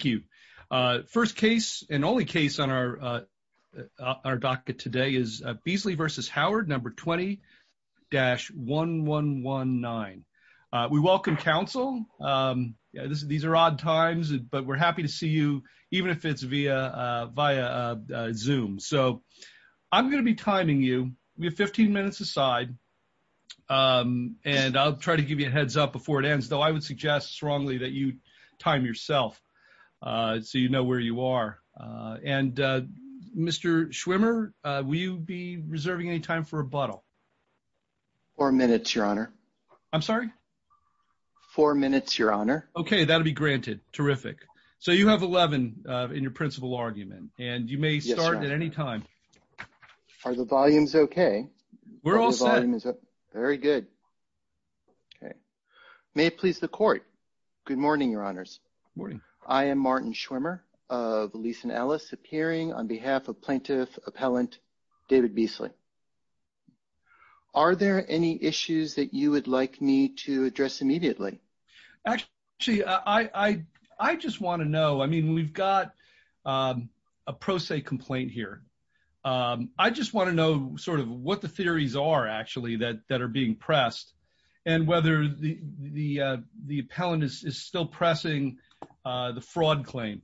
Thank you. First case and only case on our docket today is Beasley v. Howard, No. 20-1119. We welcome counsel. These are odd times, but we're happy to see you, even if it's via Zoom. So I'm going to be timing you. We have 15 minutes aside. And I'll try to give you a brief introduction so you know where you are. And Mr. Schwimmer, will you be reserving any time for rebuttal? Mr. Schwimmer Four minutes, Your Honor. Mr. Pozen I'm sorry? Mr. Schwimmer Four minutes, Your Honor. Mr. Pozen Okay, that'll be granted. Terrific. So you have 11 in your principal argument, and you may start at any time. Mr. Schwimmer Yes, Your Honor. Are the volumes okay? Mr. Pozen We're all set. Mr. Schwimmer The volume is up. Very good. Okay. May it please the court. Good morning, Your Honors. Mr. Schwimmer Good morning. Mr. Schwimmer I am Martin Schwimmer of Lisa and Alice, appearing on behalf of Plaintiff Appellant David Beasley. Are there any issues that you would like me to address immediately? Mr. Pozen Actually, I just want to know. I mean, we've got a pro se complaint here. I just want to know sort of what the theories are, actually, that are being pressed, and whether the appellant is still pressing the fraud claim.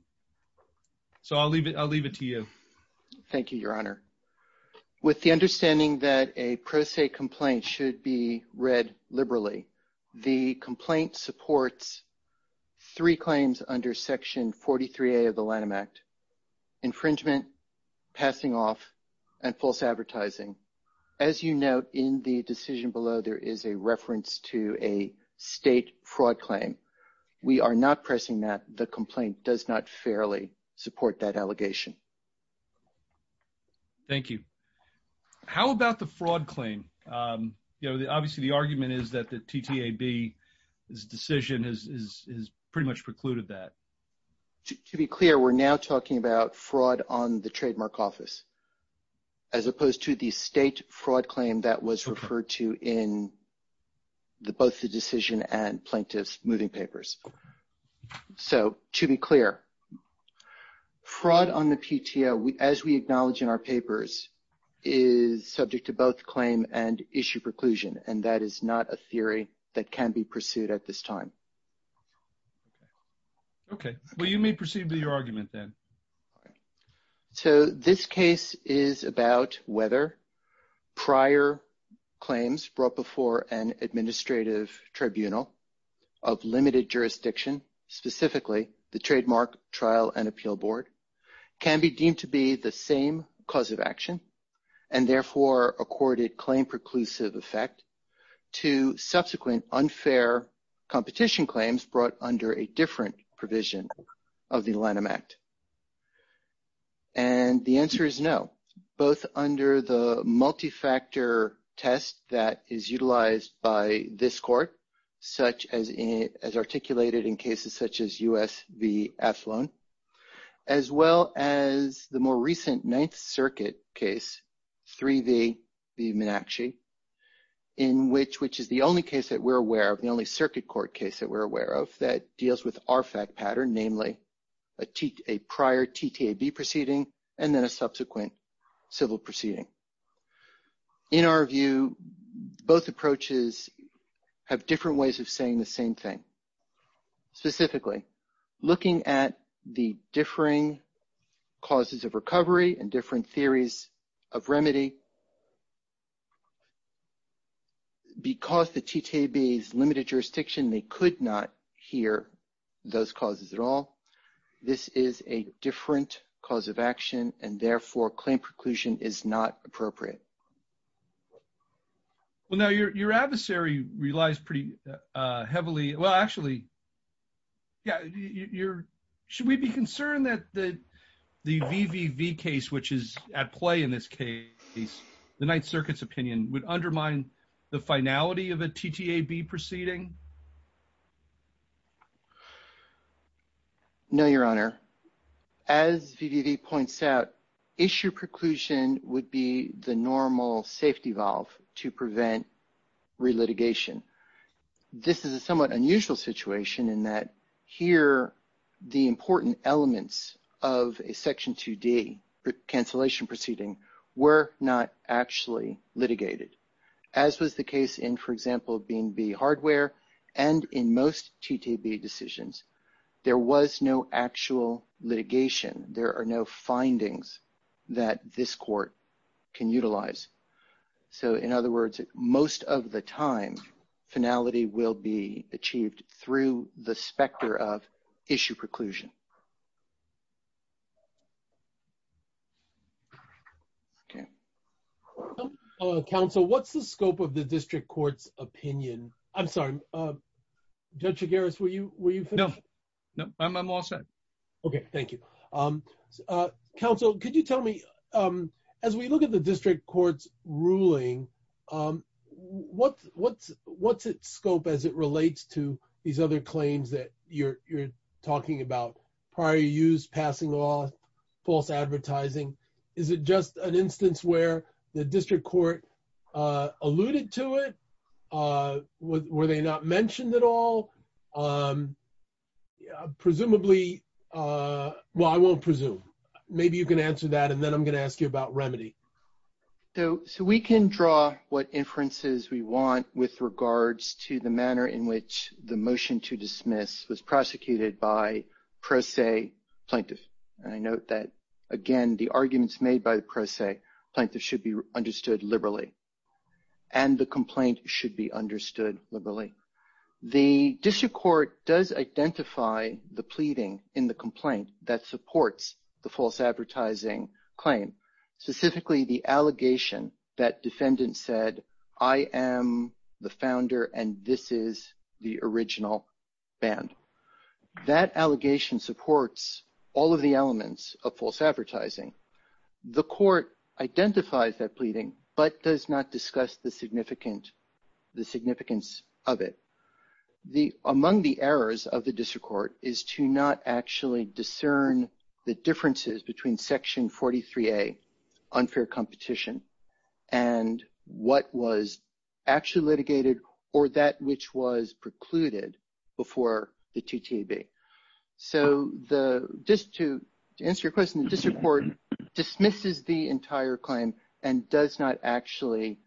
So I'll leave it to you. Mr. Schwimmer Thank you, Your Honor. With the understanding that a pro se complaint should be read liberally, the complaint supports three claims under Section 43A of the Lanham Act, infringement, passing off, and false advertising. As you note, in the decision below, there is a reference to a state fraud claim. We are not pressing that. The complaint does not fairly support that allegation. Mr. Pozen Thank you. How about the fraud claim? Obviously, the argument is that the TTAB's decision has pretty much precluded that. Mr. Schwimmer To be clear, we're now talking about fraud on the trademark office, as opposed to the state fraud claim that was referred to in both the decision and plaintiff's moving papers. So to be clear, fraud on the PTO, as we acknowledge in our papers, is subject to both claim and issue preclusion, and that is not a theory that can be pursued at this time. Mr. Pozen Okay. Well, you may proceed with your argument then. Mr. Schwimmer So this case is about whether prior claims brought before an administrative tribunal of limited jurisdiction, specifically the Trademark Trial and Appeal Board, can be deemed to be the same cause of action, and therefore accorded claim preclusive effect to subsequent unfair competition claims brought under a TTAB. And the answer is no, both under the multi-factor test that is utilized by this court, as articulated in cases such as U.S. v. Athlon, as well as the more recent Ninth Circuit case, 3 v. B. Meenakshi, which is the only case that we're aware of, the only effect pattern, namely a prior TTAB proceeding and then a subsequent civil proceeding. In our view, both approaches have different ways of saying the same thing. Specifically, looking at the differing causes of recovery and different theories of remedy, because the TTAB is limited jurisdiction, they could not hear those causes at all. This is a different cause of action, and therefore, claim preclusion is not appropriate. Mr. Slavitt Well, now your adversary relies pretty heavily – well, actually, yeah, should we be concerned that the v. v. v. case, which is at play in this case, the Ninth Circuit's opinion, would undermine the finality of a TTAB proceeding – Mr. Slavitt No, Your Honor. As v. v. v. points out, issue preclusion would be the normal safety valve to prevent re-litigation. This is a somewhat unusual situation in that here, the important elements of a Section 2D cancellation proceeding were not actually litigated, as was the case in, for example, B&B hardware, and in most TTAB decisions, there was no actual litigation. There are no findings that this Court can utilize. So, in other words, most of the time, finality will be achieved through the specter of issue preclusion. Mr. Slavitt Counsel, what's the scope of the district court's opinion? I'm sorry, Judge Chigares, were you finished? Judge Chigares No, no, I'm all set. Mr. Slavitt Okay, thank you. Counsel, could you tell me, as we look at the district court's ruling, what's its scope as it relates to these other talking about prior use, passing law, false advertising? Is it just an instance where the district court alluded to it? Were they not mentioned at all? Presumably, well, I won't presume. Maybe you can answer that, and then I'm going to ask you about remedy. Judge Chigares So, we can draw what inferences we want with regards to the manner in which the motion to dismiss was prosecuted by pro se plaintiff. And I note that, again, the arguments made by the pro se plaintiff should be understood liberally, and the complaint should be understood liberally. The district court does identify the pleading in the complaint that supports the false advertising claim, specifically the allegation that defendant said, I am the founder, and this is the original band. That allegation supports all of the elements of false advertising. The court identifies that pleading, but does not discuss the significance of it. Among the errors of the district court is to not actually discern the differences between section 43A, unfair competition, and what was actually litigated or that which was precluded before the TTAB. So, just to answer your question, the district court dismisses the entire claim and does not actually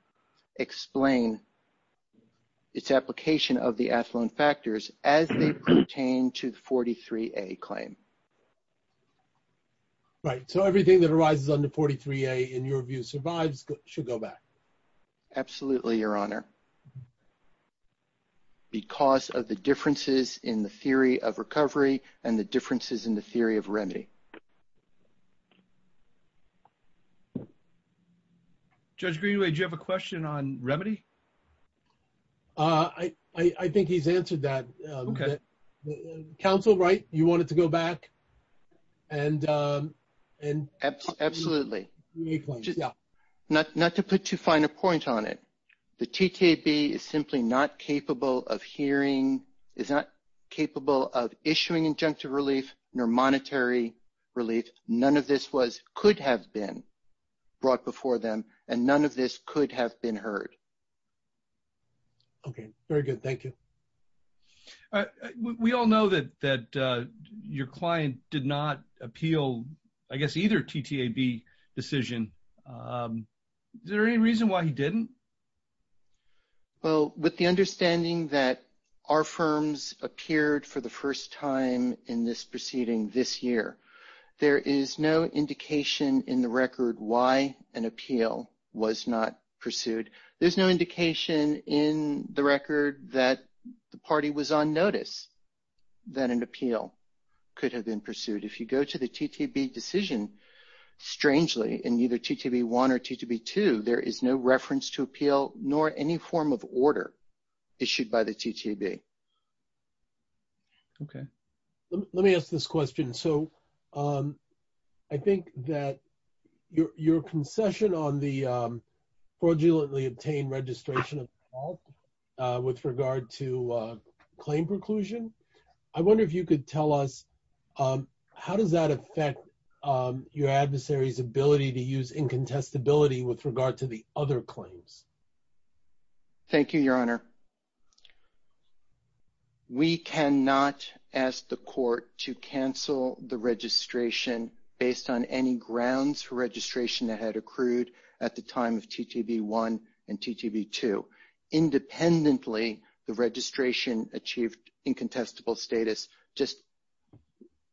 explain its application of the affluent factors as they pertain to the 43A claim. Judge Goldberg Right. So, everything that arises under 43A, in your view, survives should go back. Judge Chigares Absolutely, Your Honor, because of the differences in the theory of recovery and the differences in the theory of remedy. Judge Goldberg Judge Greenway, do you have a question on remedy? Judge Greenway I think he's answered that. Judge Goldberg Okay. Judge Greenway Counsel, right? You want it to go back? Judge Goldberg Absolutely. Not to put too fine a point on it. The TTAB is simply not capable of hearing, is not capable of issuing injunctive relief, nor monetary relief. None of this could have been brought before them, and none of this could have been heard. Judge Goldberg Okay, very good. Thank you. Judge Goldberg We all know that your client did not appeal, I guess, either TTAB decision. Is there any reason why he didn't? Judge Greenway Well, with the understanding that our firms appeared for the first time in this proceeding this year, there is no indication in the record why an appeal was not pursued. There's no indication in the record that the party was on notice that an appeal could have been pursued. If you go to the TTAB decision, strangely, in either TTAB 1 or TTAB 2, there is no reference to appeal, nor any form of order issued by the TTAB. Judge Goldberg Okay. Let me ask this question. So, I think that your concession on the fraudulently obtained registration of the fault with regard to claim preclusion, I wonder if you could tell us, how does that affect your adversary's ability to use incontestability with regard to the other claims? Judge Greenway Thank you, Your Honor. We cannot ask the court to cancel the registration based on any grounds for registration that had accrued at the time of TTAB 1 and TTAB 2. Independently, the registration achieved incontestable status just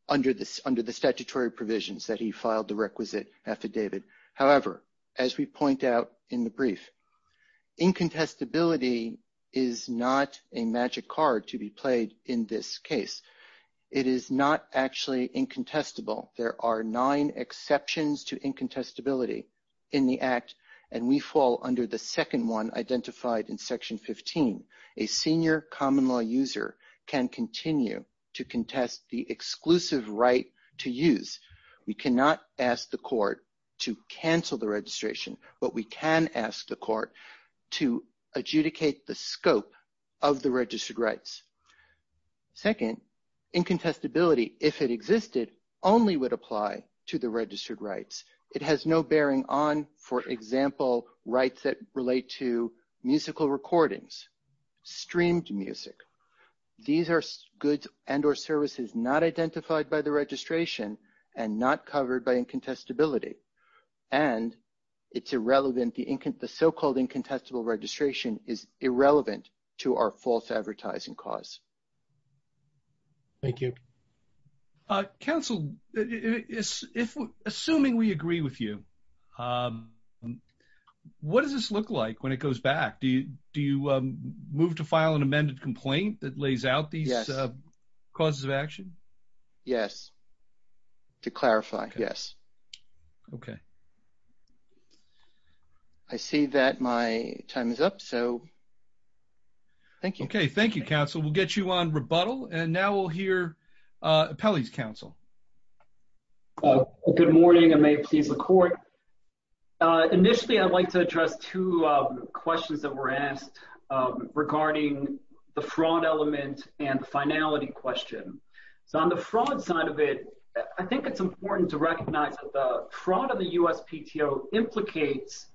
under the statutory provisions that he filed the requisite affidavit. However, as we point out in the brief, incontestability is not a magic card to be played in this case. It is not actually incontestable. There are nine exceptions to incontestability in the Act, and we fall under the second one identified in Section 15. A senior common law can continue to contest the exclusive right to use. We cannot ask the court to cancel the registration, but we can ask the court to adjudicate the scope of the registered rights. Second, incontestability, if it existed, only would apply to the registered rights. It has no bearing on, for example, rights that relate to musical recordings, streamed music, these are goods and or services not identified by the registration and not covered by incontestability. And it's irrelevant, the so-called incontestable registration is irrelevant to our false advertising cause. Thank you. Council, assuming we agree with you, what does this look like when it goes back? Do you move to file an amended complaint that lays out these causes of action? Yes, to clarify, yes. Okay. I see that my time is up, so thank you. Okay, thank you, Council. We'll get you on rebuttal, and now we'll hear Pelley's counsel. Good morning, and may it please the court. Initially, I'd like to address two questions that were asked regarding the fraud element and finality question. So on the fraud side of it, I think it's important to recognize that the fraud of the USPTO implicates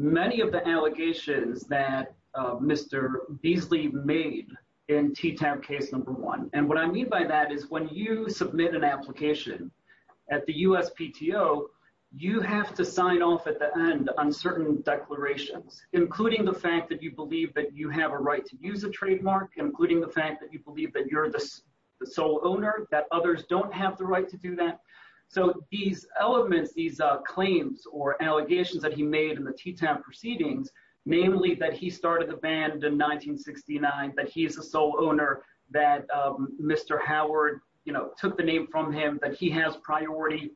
many of the allegations that Mr. Beasley made in T-TAP case number one. And what I mean by that is when you submit an application at the USPTO, you have to sign off at the end on certain declarations, including the fact that you believe that you have a right to use a trademark, including the fact that you believe that you're the sole owner, that others don't have the right to do that. So these elements, these claims or allegations that he made in the T-TAP proceedings, namely that he started the band in 1969, that he is a sole owner, that Mr. Howard took the name from him, that he has priority,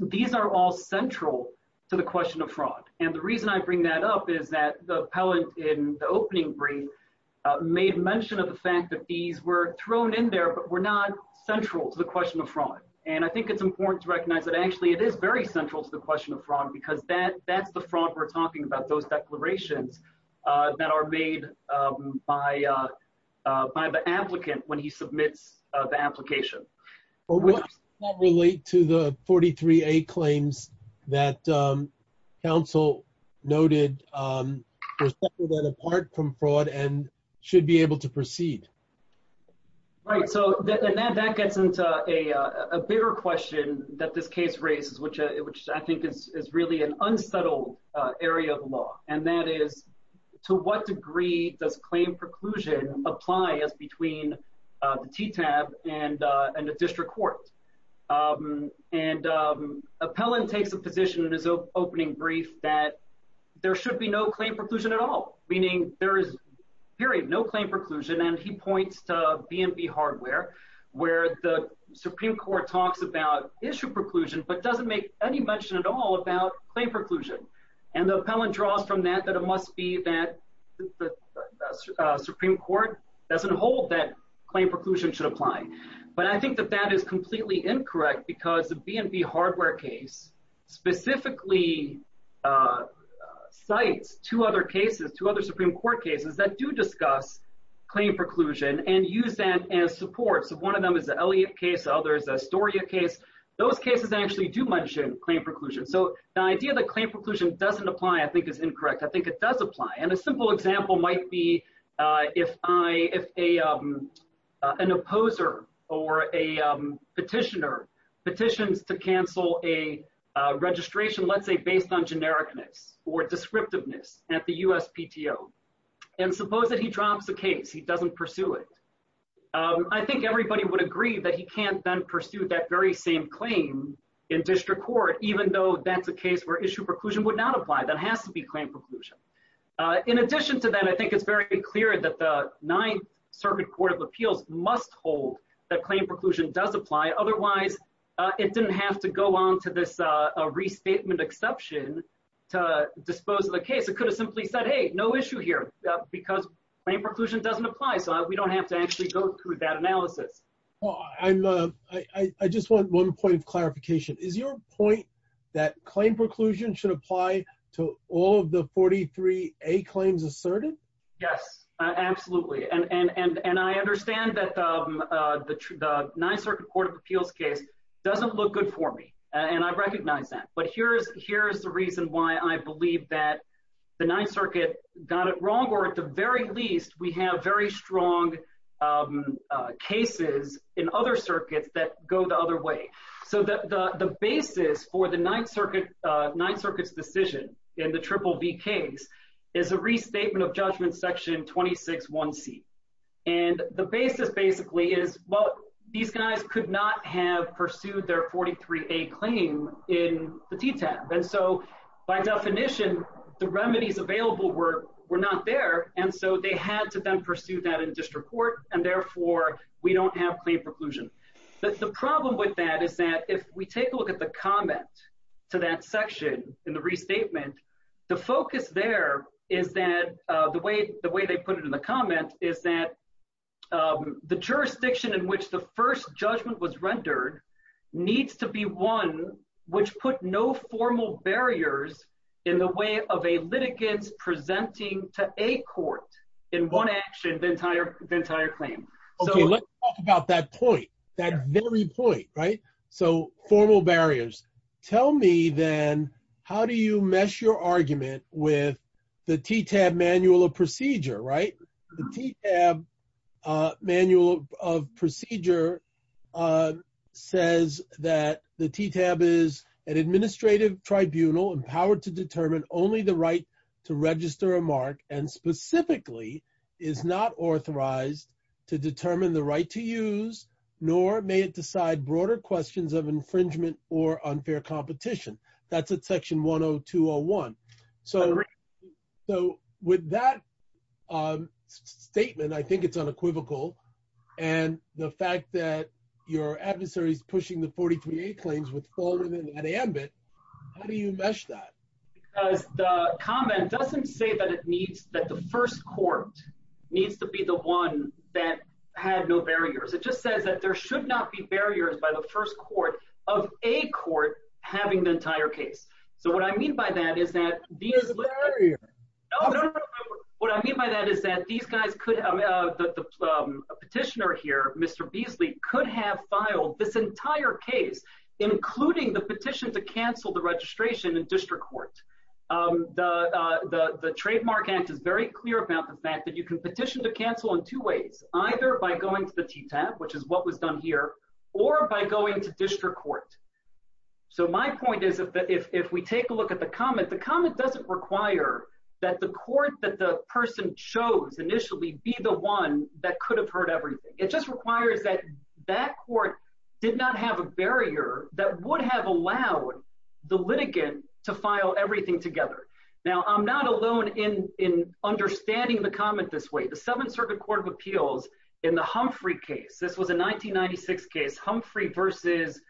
these are all central to the question of fraud. And the reason I bring that up is that the appellant in the opening brief made mention of the fact that these were thrown in there, but were not central to the question of fraud. And I think it's important to recognize that actually it is very central to the question of fraud, because that's the fraud we're talking about, those declarations that are made by the applicant when he submits the application. But what does that relate to the 43A claims that counsel noted were separate and apart from fraud and should be able to proceed? Right, so that gets into a bigger question that this case raises, which I think is really an important one, which is does claim preclusion apply as between the T-TAP and the district court? And appellant takes a position in his opening brief that there should be no claim preclusion at all, meaning there is period, no claim preclusion. And he points to BNB hardware, where the Supreme Court talks about issue preclusion, but doesn't make any mention at all about claim preclusion. And the appellant draws from that, that it must be that the Supreme Court doesn't hold that claim preclusion should apply. But I think that that is completely incorrect, because the BNB hardware case specifically cites two other cases, two other Supreme Court cases, that do discuss claim preclusion and use that as support. So one of them is the Elliott case, others Astoria case. Those cases actually do mention claim preclusion. So the idea that claim preclusion doesn't apply, I think is incorrect. I think it does apply. And a simple example might be if an opposer or a petitioner petitions to cancel a registration, let's say based on genericness or descriptiveness at the USPTO. And suppose that he drops the case, he doesn't pursue it. I think everybody would agree that he can't then pursue that very same claim in district court, even though that's a case where issue preclusion would not apply. That has to be claim preclusion. In addition to that, I think it's very clear that the Ninth Circuit Court of Appeals must hold that claim preclusion does apply. Otherwise, it didn't have to go on to this restatement exception to dispose of the case. It could have simply said, hey, no issue here, because claim preclusion doesn't apply. So we don't have to actually go through that analysis. Well, I just want one point of clarification. Is your point that claim preclusion should apply to all of the 43A claims asserted? Yes, absolutely. And I understand that the Ninth Circuit Court of Appeals case doesn't look good for me. And I recognize that. But here's the reason why I believe that the Ninth Circuit got it wrong, or at the very least, we have very strong cases in other circuits that go the other way. So the basis for the Ninth Circuit's decision in the Triple V case is a restatement of Judgment Section 261C. And the basis basically is, well, these guys could not have pursued their 43A claim in the DTAP. And so by definition, the remedies available were not there. And so they had to then pursue that in district court. And therefore, we don't have claim preclusion. But the problem with that is that if we take a look at the comment to that section in the restatement, the focus there is that the way they put it in the comment is that the jurisdiction in which the first judgment was rendered needs to be one which put no formal barriers in the way of a litigant presenting to a court in one action the entire claim. Okay, let's talk about that point, that very point, right? So formal barriers. Tell me then, how do you mesh your argument with the TTAP Manual of Procedure, right? The TTAP Manual of Procedure says that the TTAP is an administrative tribunal empowered to determine only the right to register a mark and specifically is not authorized to determine the right to use, nor may it decide broader questions of infringement or unfair competition. That's at section 10201. So with that statement, I think it's unequivocal. And the fact that your adversaries pushing the 43A claims with fall within an ambit, how do you mesh that? Because the comment doesn't say that it needs that the first court needs to be the one that had no barriers. It just says that there should not be barriers by the first court of a court having the entire case. So what I mean by that is that these guys, the petitioner here, Mr. Beasley, could have filed this entire case, including the petition to cancel the registration in district court. The Trademark Act is very clear about the fact that you can petition to cancel in two ways, either by going to the TTAP, which is what was done here, or by going to district court. So my point is, if we take a look at the comment, the comment doesn't require that the court that the person chose initially be the one that could have heard everything. It just requires that that court did not have a barrier that would have allowed the litigant to file everything together. Now, I'm not alone in understanding the comment this way. The Seventh Circuit Court of Appeals in the Humphrey case, this was a 1996 case, Humphrey versus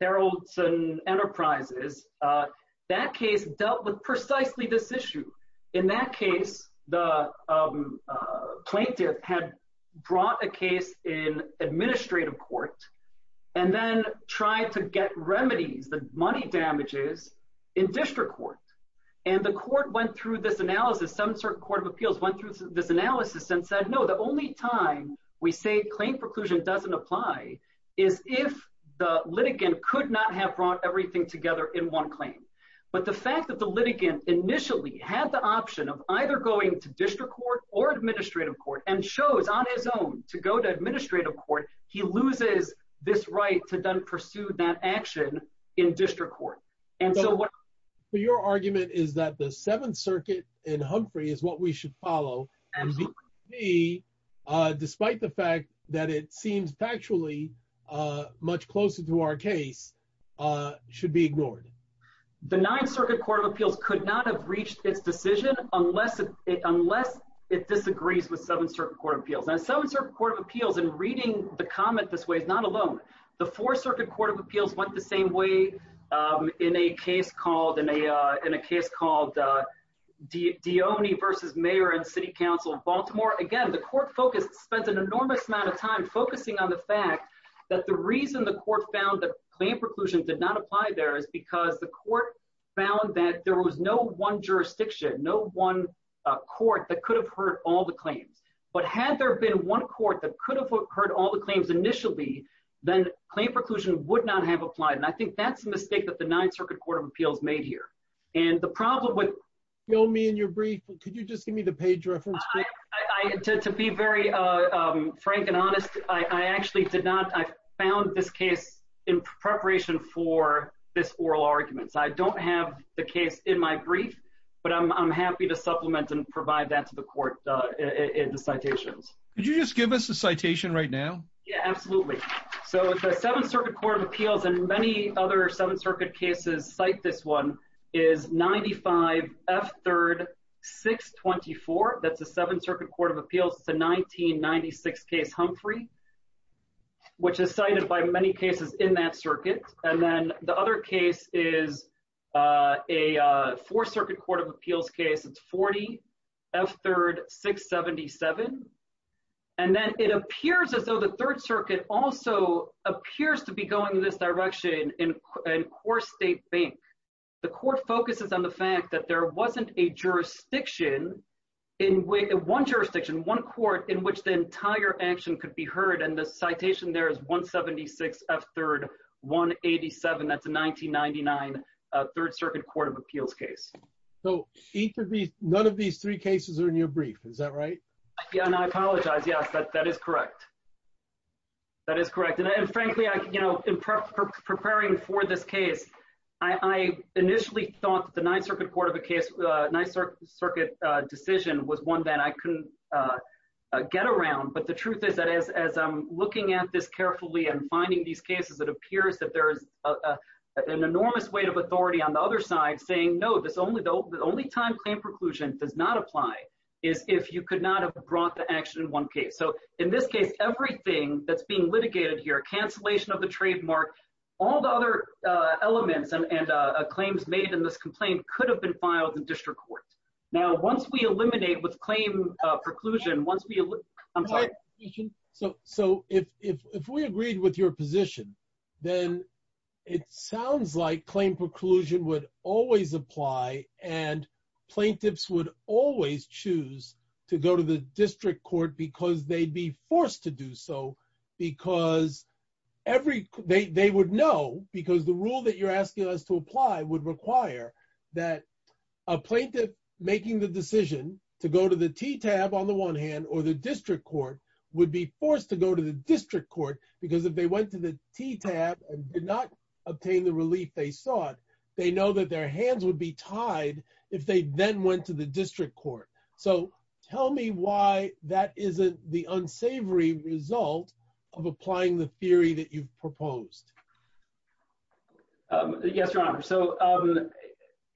Haroldson Enterprises, that case dealt with precisely this issue. In that case, the plaintiff had brought a case in administrative court and then tried to get remedies, the money damages, in district court. And the court went through this analysis, some sort of court of appeals went through this analysis and said, no, the only time we say claim preclusion doesn't apply is if the litigant could not have brought everything together in one claim. But the fact that the litigant initially had the option of either going to district court or administrative court and shows on his own to go to administrative court, he loses this right to then pursue that action in district court. So your argument is that the Seventh Circuit in Humphrey is what we should follow, despite the fact that it seems factually much closer to our case, should be ignored. The Ninth Circuit Court of Appeals could not have reached its decision unless it disagrees with Seventh Circuit Court of Appeals. And Seventh Circuit Court of Appeals, in reading the comment this way, is not alone. The Fourth Circuit Court of Appeals went the same way in a case called Deoni versus Mayor and City Council of Baltimore. Again, the court focused, spent an enormous amount of time focusing on the fact that the reason the court found that claim preclusion did not apply there is because the court found that there was no one jurisdiction, no one court that could have heard all the claims. But had there been one court that could have heard all the claims initially, then claim preclusion would not have applied. And I think that's the mistake that the Ninth Circuit Court of Appeals made here. And the problem with- Fill me in your brief. Could you just give me the page reference? To be very frank and honest, I actually did not. I found this case in preparation for this oral argument. So I don't have the case in my brief, but I'm happy to supplement and provide that to the court in the citations. Could you just give us the citation right now? Yeah, absolutely. So the Seventh Circuit Court of Appeals and many other Seventh Circuit cases cite this one is 95F3-624. That's the Seventh Circuit Court of Appeals, the 1996 case Humphrey, which is cited by many cases in that circuit. And then the other case is a Fourth Circuit Court of Appeals case. It's 40F3-677. And then it appears as though the Third Circuit also appears to be going in this direction in Core State Bank. The court focuses on the fact that there wasn't a jurisdiction, one jurisdiction, one court in which the entire action could be heard. And the citation there is 176F3-187. That's a 1999 Third Circuit Court of Appeals case. So none of these three cases are in your brief, is that right? Yeah, and I apologize. Yes, that is correct. That is correct. And frankly, in preparing for this case, I initially thought that the Ninth Circuit Court of Appeals, Ninth Circuit decision was one that I couldn't get around. But the truth is that as I'm looking at this carefully and finding these cases, it appears that there is an enormous weight of authority on the other side saying, no, the only time claim preclusion does not apply is if you could not have brought the action in one case. So in this case, everything that's being litigated here, cancellation of the trademark, all the other elements and claims made in this complaint could have been filed in district court. Now, once we eliminate with claim preclusion, once we... I'm sorry. So if we agreed with your position, then it sounds like claim preclusion would always apply and plaintiffs would always choose to go to the district court because they'd be forced to do so because they would know because the rule that you're asking us to apply would require that a plaintiff making the decision to go to the TTAB on the one hand or the district court would be forced to go to the district court because if they went to the TTAB and did not obtain the relief they sought, they know that their hands would be tied if they then went to the district court. So tell me why that isn't the unsavory result of applying the theory that you've proposed. Yes, Your Honor. So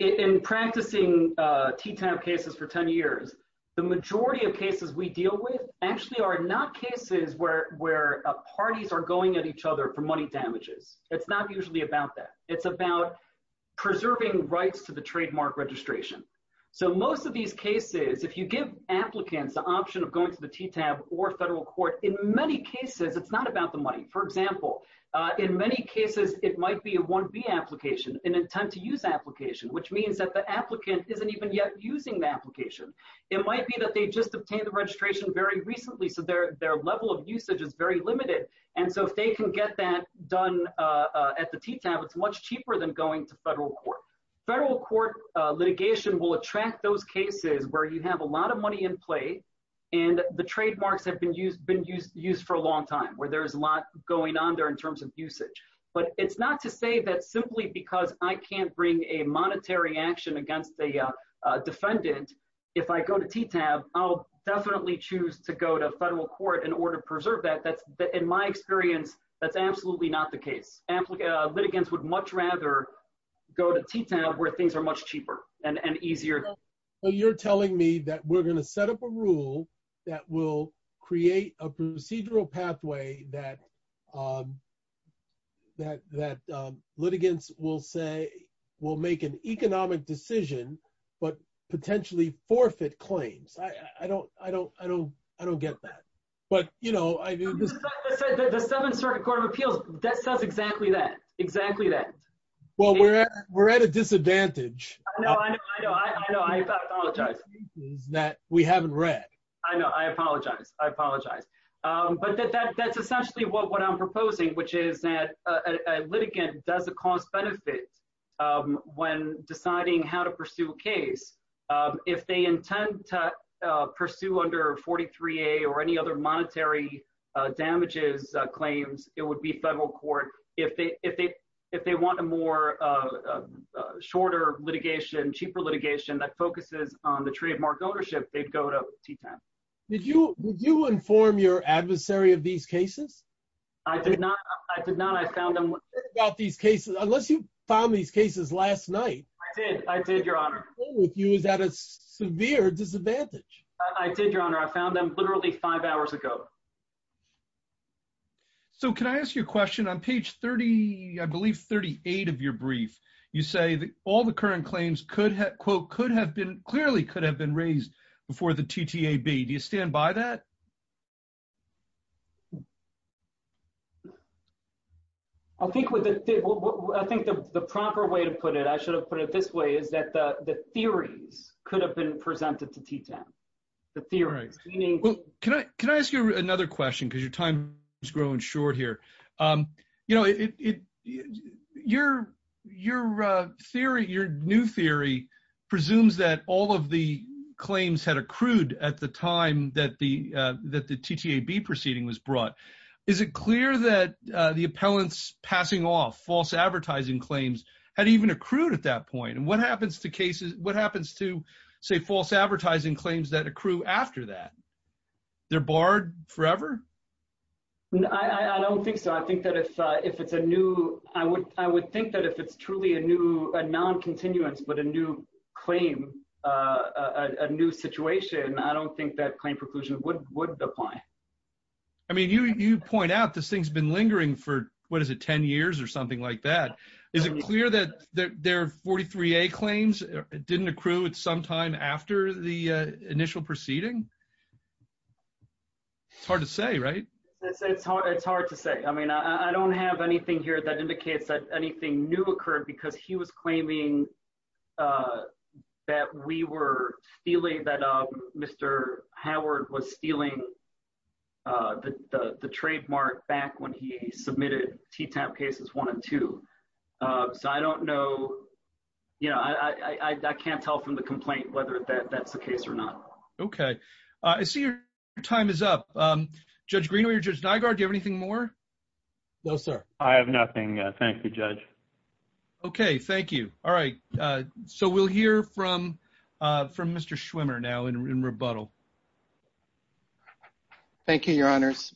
in practicing TTAB cases for 10 years, the majority of cases we deal with actually are not cases where parties are going at each other for money damages. It's not usually about that. It's about preserving rights to the trademark registration. So most of these cases, if you give applicants the option of going to the TTAB or federal court, in many cases it's not about the money. For example, in many cases it might be a 1B application, an intent to use application, which means that the applicant isn't even yet using the application. It might be that they just obtained the registration very recently so their level of usage is very limited and so if they can get that done at the TTAB, it's much cheaper than going to federal court. Federal court litigation will attract those cases where you have a lot of money in play and the trademarks have been used for a long time where there's a lot going on there in terms of usage. But it's not to say that simply because I can't bring a monetary action against the defendant, if I go to TTAB, I'll definitely choose to go to federal court in order to preserve that. In my experience, that's absolutely not the case. Litigants would much rather go to TTAB where things are much cheaper and easier. So you're telling me that we're going to set up a rule that will create a procedural pathway that litigants will say will make an economic decision but potentially forfeit claims. I don't get that. But, you know... The Seventh Circuit Court of Appeals, that says exactly that. Exactly that. Well, we're at a disadvantage. I know, I know, I know. I apologize. That we haven't read. I know. I apologize. I apologize. But that's essentially what I'm proposing, which is that a litigant doesn't cost benefits when deciding how to pursue a case. If they intend to pursue under 43A or any other monetary damages claims, it would be federal court. If they want a more shorter litigation, cheaper litigation that focuses on the trademark ownership, they'd go to TTAB. Did you inform your adversary of these cases? I did not. I did not. I found them... About these cases, unless you found these cases last night. I did. I did, Your Honor. I'm sure with you is at a severe disadvantage. I did, Your Honor. I found them literally five hours ago. So, can I ask you a question? On page 30, I believe 38 of your brief, you say that all the current claims could have, quote, could have been clearly could have been raised before the TTAB. Do you stand by that? I think with the... I think the proper way to put it, I should have put it this way, is that the theories could have been presented to TTAB. The theories, meaning... Can I ask you another question? Because your time is growing short here. Your theory, your new theory, presumes that all of the claims had accrued at the time that the TTAB proceeding was brought. Is it clear that the appellants passing off false advertising claims had even accrued at that point? And what happens to cases, what happens to say false advertising claims that accrue after that? They're barred forever? I don't think so. I think that if it's a new... I would think that if it's truly a new, a non-continuance, but a new claim, a new situation, I don't think that claim preclusion would apply. I mean, you point out this thing's been lingering for, what is it, 10 years or something like that. Is it clear that their 43A claims didn't accrue at some time after the initial proceeding? It's hard to say, right? It's hard to say. I mean, I don't have anything here that indicates that anything new occurred because he was claiming that we were stealing, that Mr. Howard was stealing the trademark back when he submitted TTAB cases one and two. So I don't know. I can't tell from the complaint whether that's the case or not. Okay. I see your time is up. Judge Greenaway or Judge Nygaard, do you have anything more? No, sir. I have nothing. Thank you, judge. Okay. Thank you. All right. So we'll hear from Mr. Schwimmer now in rebuttal. Thank you, your honors.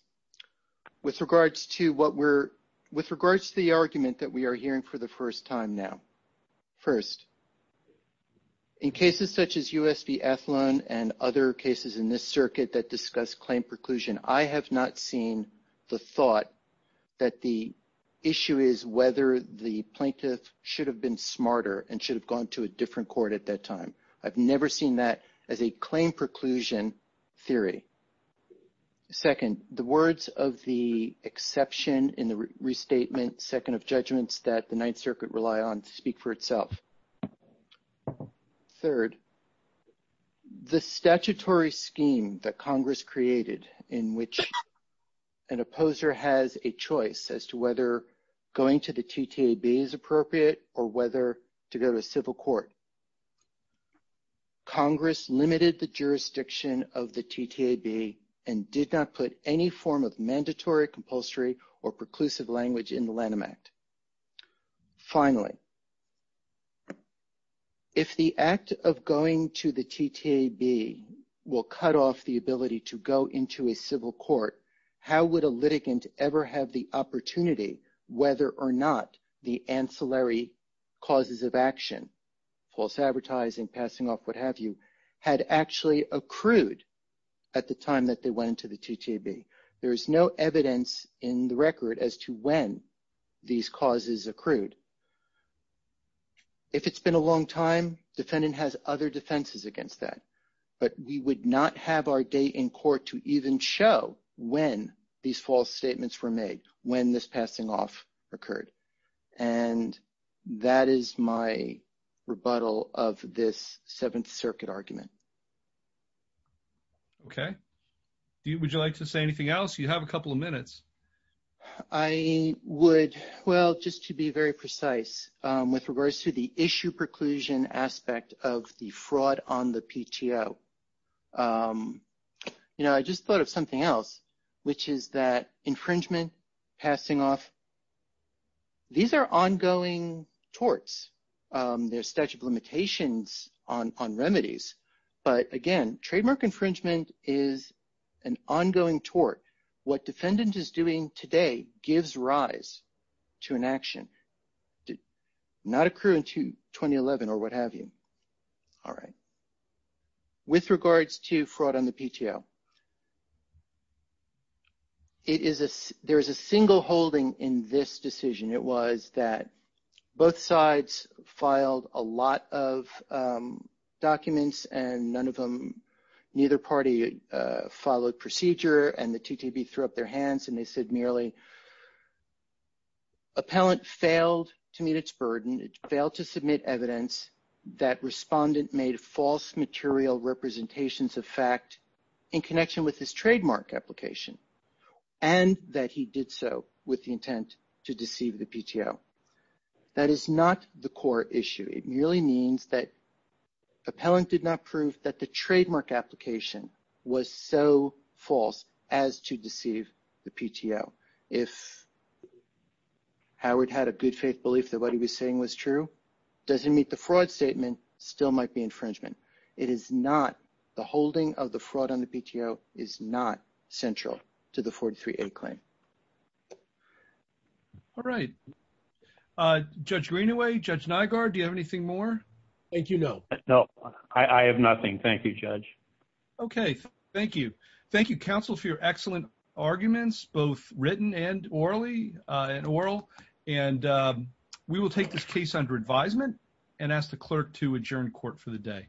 With regards to the argument that we are hearing for the first time now. First, in cases such as US v. Athlon and other cases in this circuit that discuss claim preclusion, I have not seen the thought that the issue is whether the plaintiff should have been smarter and should have gone to a different court at that time. I've never seen that as a claim preclusion theory. Second, the words of the exception in the restatement second of judgments that the Ninth Circuit rely on speak for itself. Third, the statutory scheme that Congress created in which an opposer has a choice as to whether going to the TTAB is appropriate or whether to go to a civil court. Congress limited the jurisdiction of the TTAB and did not put any form of mandatory compulsory or preclusive language in the Lanham Act. Finally, if the act of going to the TTAB will cut off the ability to go into a civil court, how would a litigant ever have the opportunity whether or not the ancillary causes of action, false advertising, passing off, what have you, had actually accrued at the time that they went into the TTAB? There is no evidence in the record as to when these causes accrued. If it's been a long time, defendant has other defenses against that, but we would not have our day in court to even show when these false statements were made, when this passing off occurred. And that is my rebuttal of this Seventh Circuit argument. Okay. Would you like to say anything else? You have a couple of minutes. I would, well, just to be very precise, with regards to the issue preclusion aspect of the TTO, I just thought of something else, which is that infringement, passing off, these are ongoing torts. There's statute of limitations on remedies, but again, trademark infringement is an ongoing tort. What defendant is doing today gives rise to an action, not accruing to 2011 or what have you. All right. With regards to fraud on the PTO, there is a single holding in this decision. It was that both sides filed a lot of documents and none of them, neither party followed procedure and the TTAB threw up their hands and they said merely appellant failed to meet its burden. It failed to submit evidence that respondent made false material representations of fact in connection with his trademark application and that he did so with the intent to deceive the PTO. That is not the core issue. It merely means that appellant did not prove that the trademark application was so false as to if Howard had a good faith belief that what he was saying was true, doesn't meet the fraud statement, still might be infringement. It is not, the holding of the fraud on the PTO is not central to the 43A claim. All right. Judge Greenaway, Judge Nygaard, do you have anything more? Thank you. No. No, I have nothing. Thank you, Judge. Okay. Thank you. Thank you, counsel, for your excellent arguments, both written and orally and oral. And we will take this case under advisement and ask the clerk to adjourn court for the day.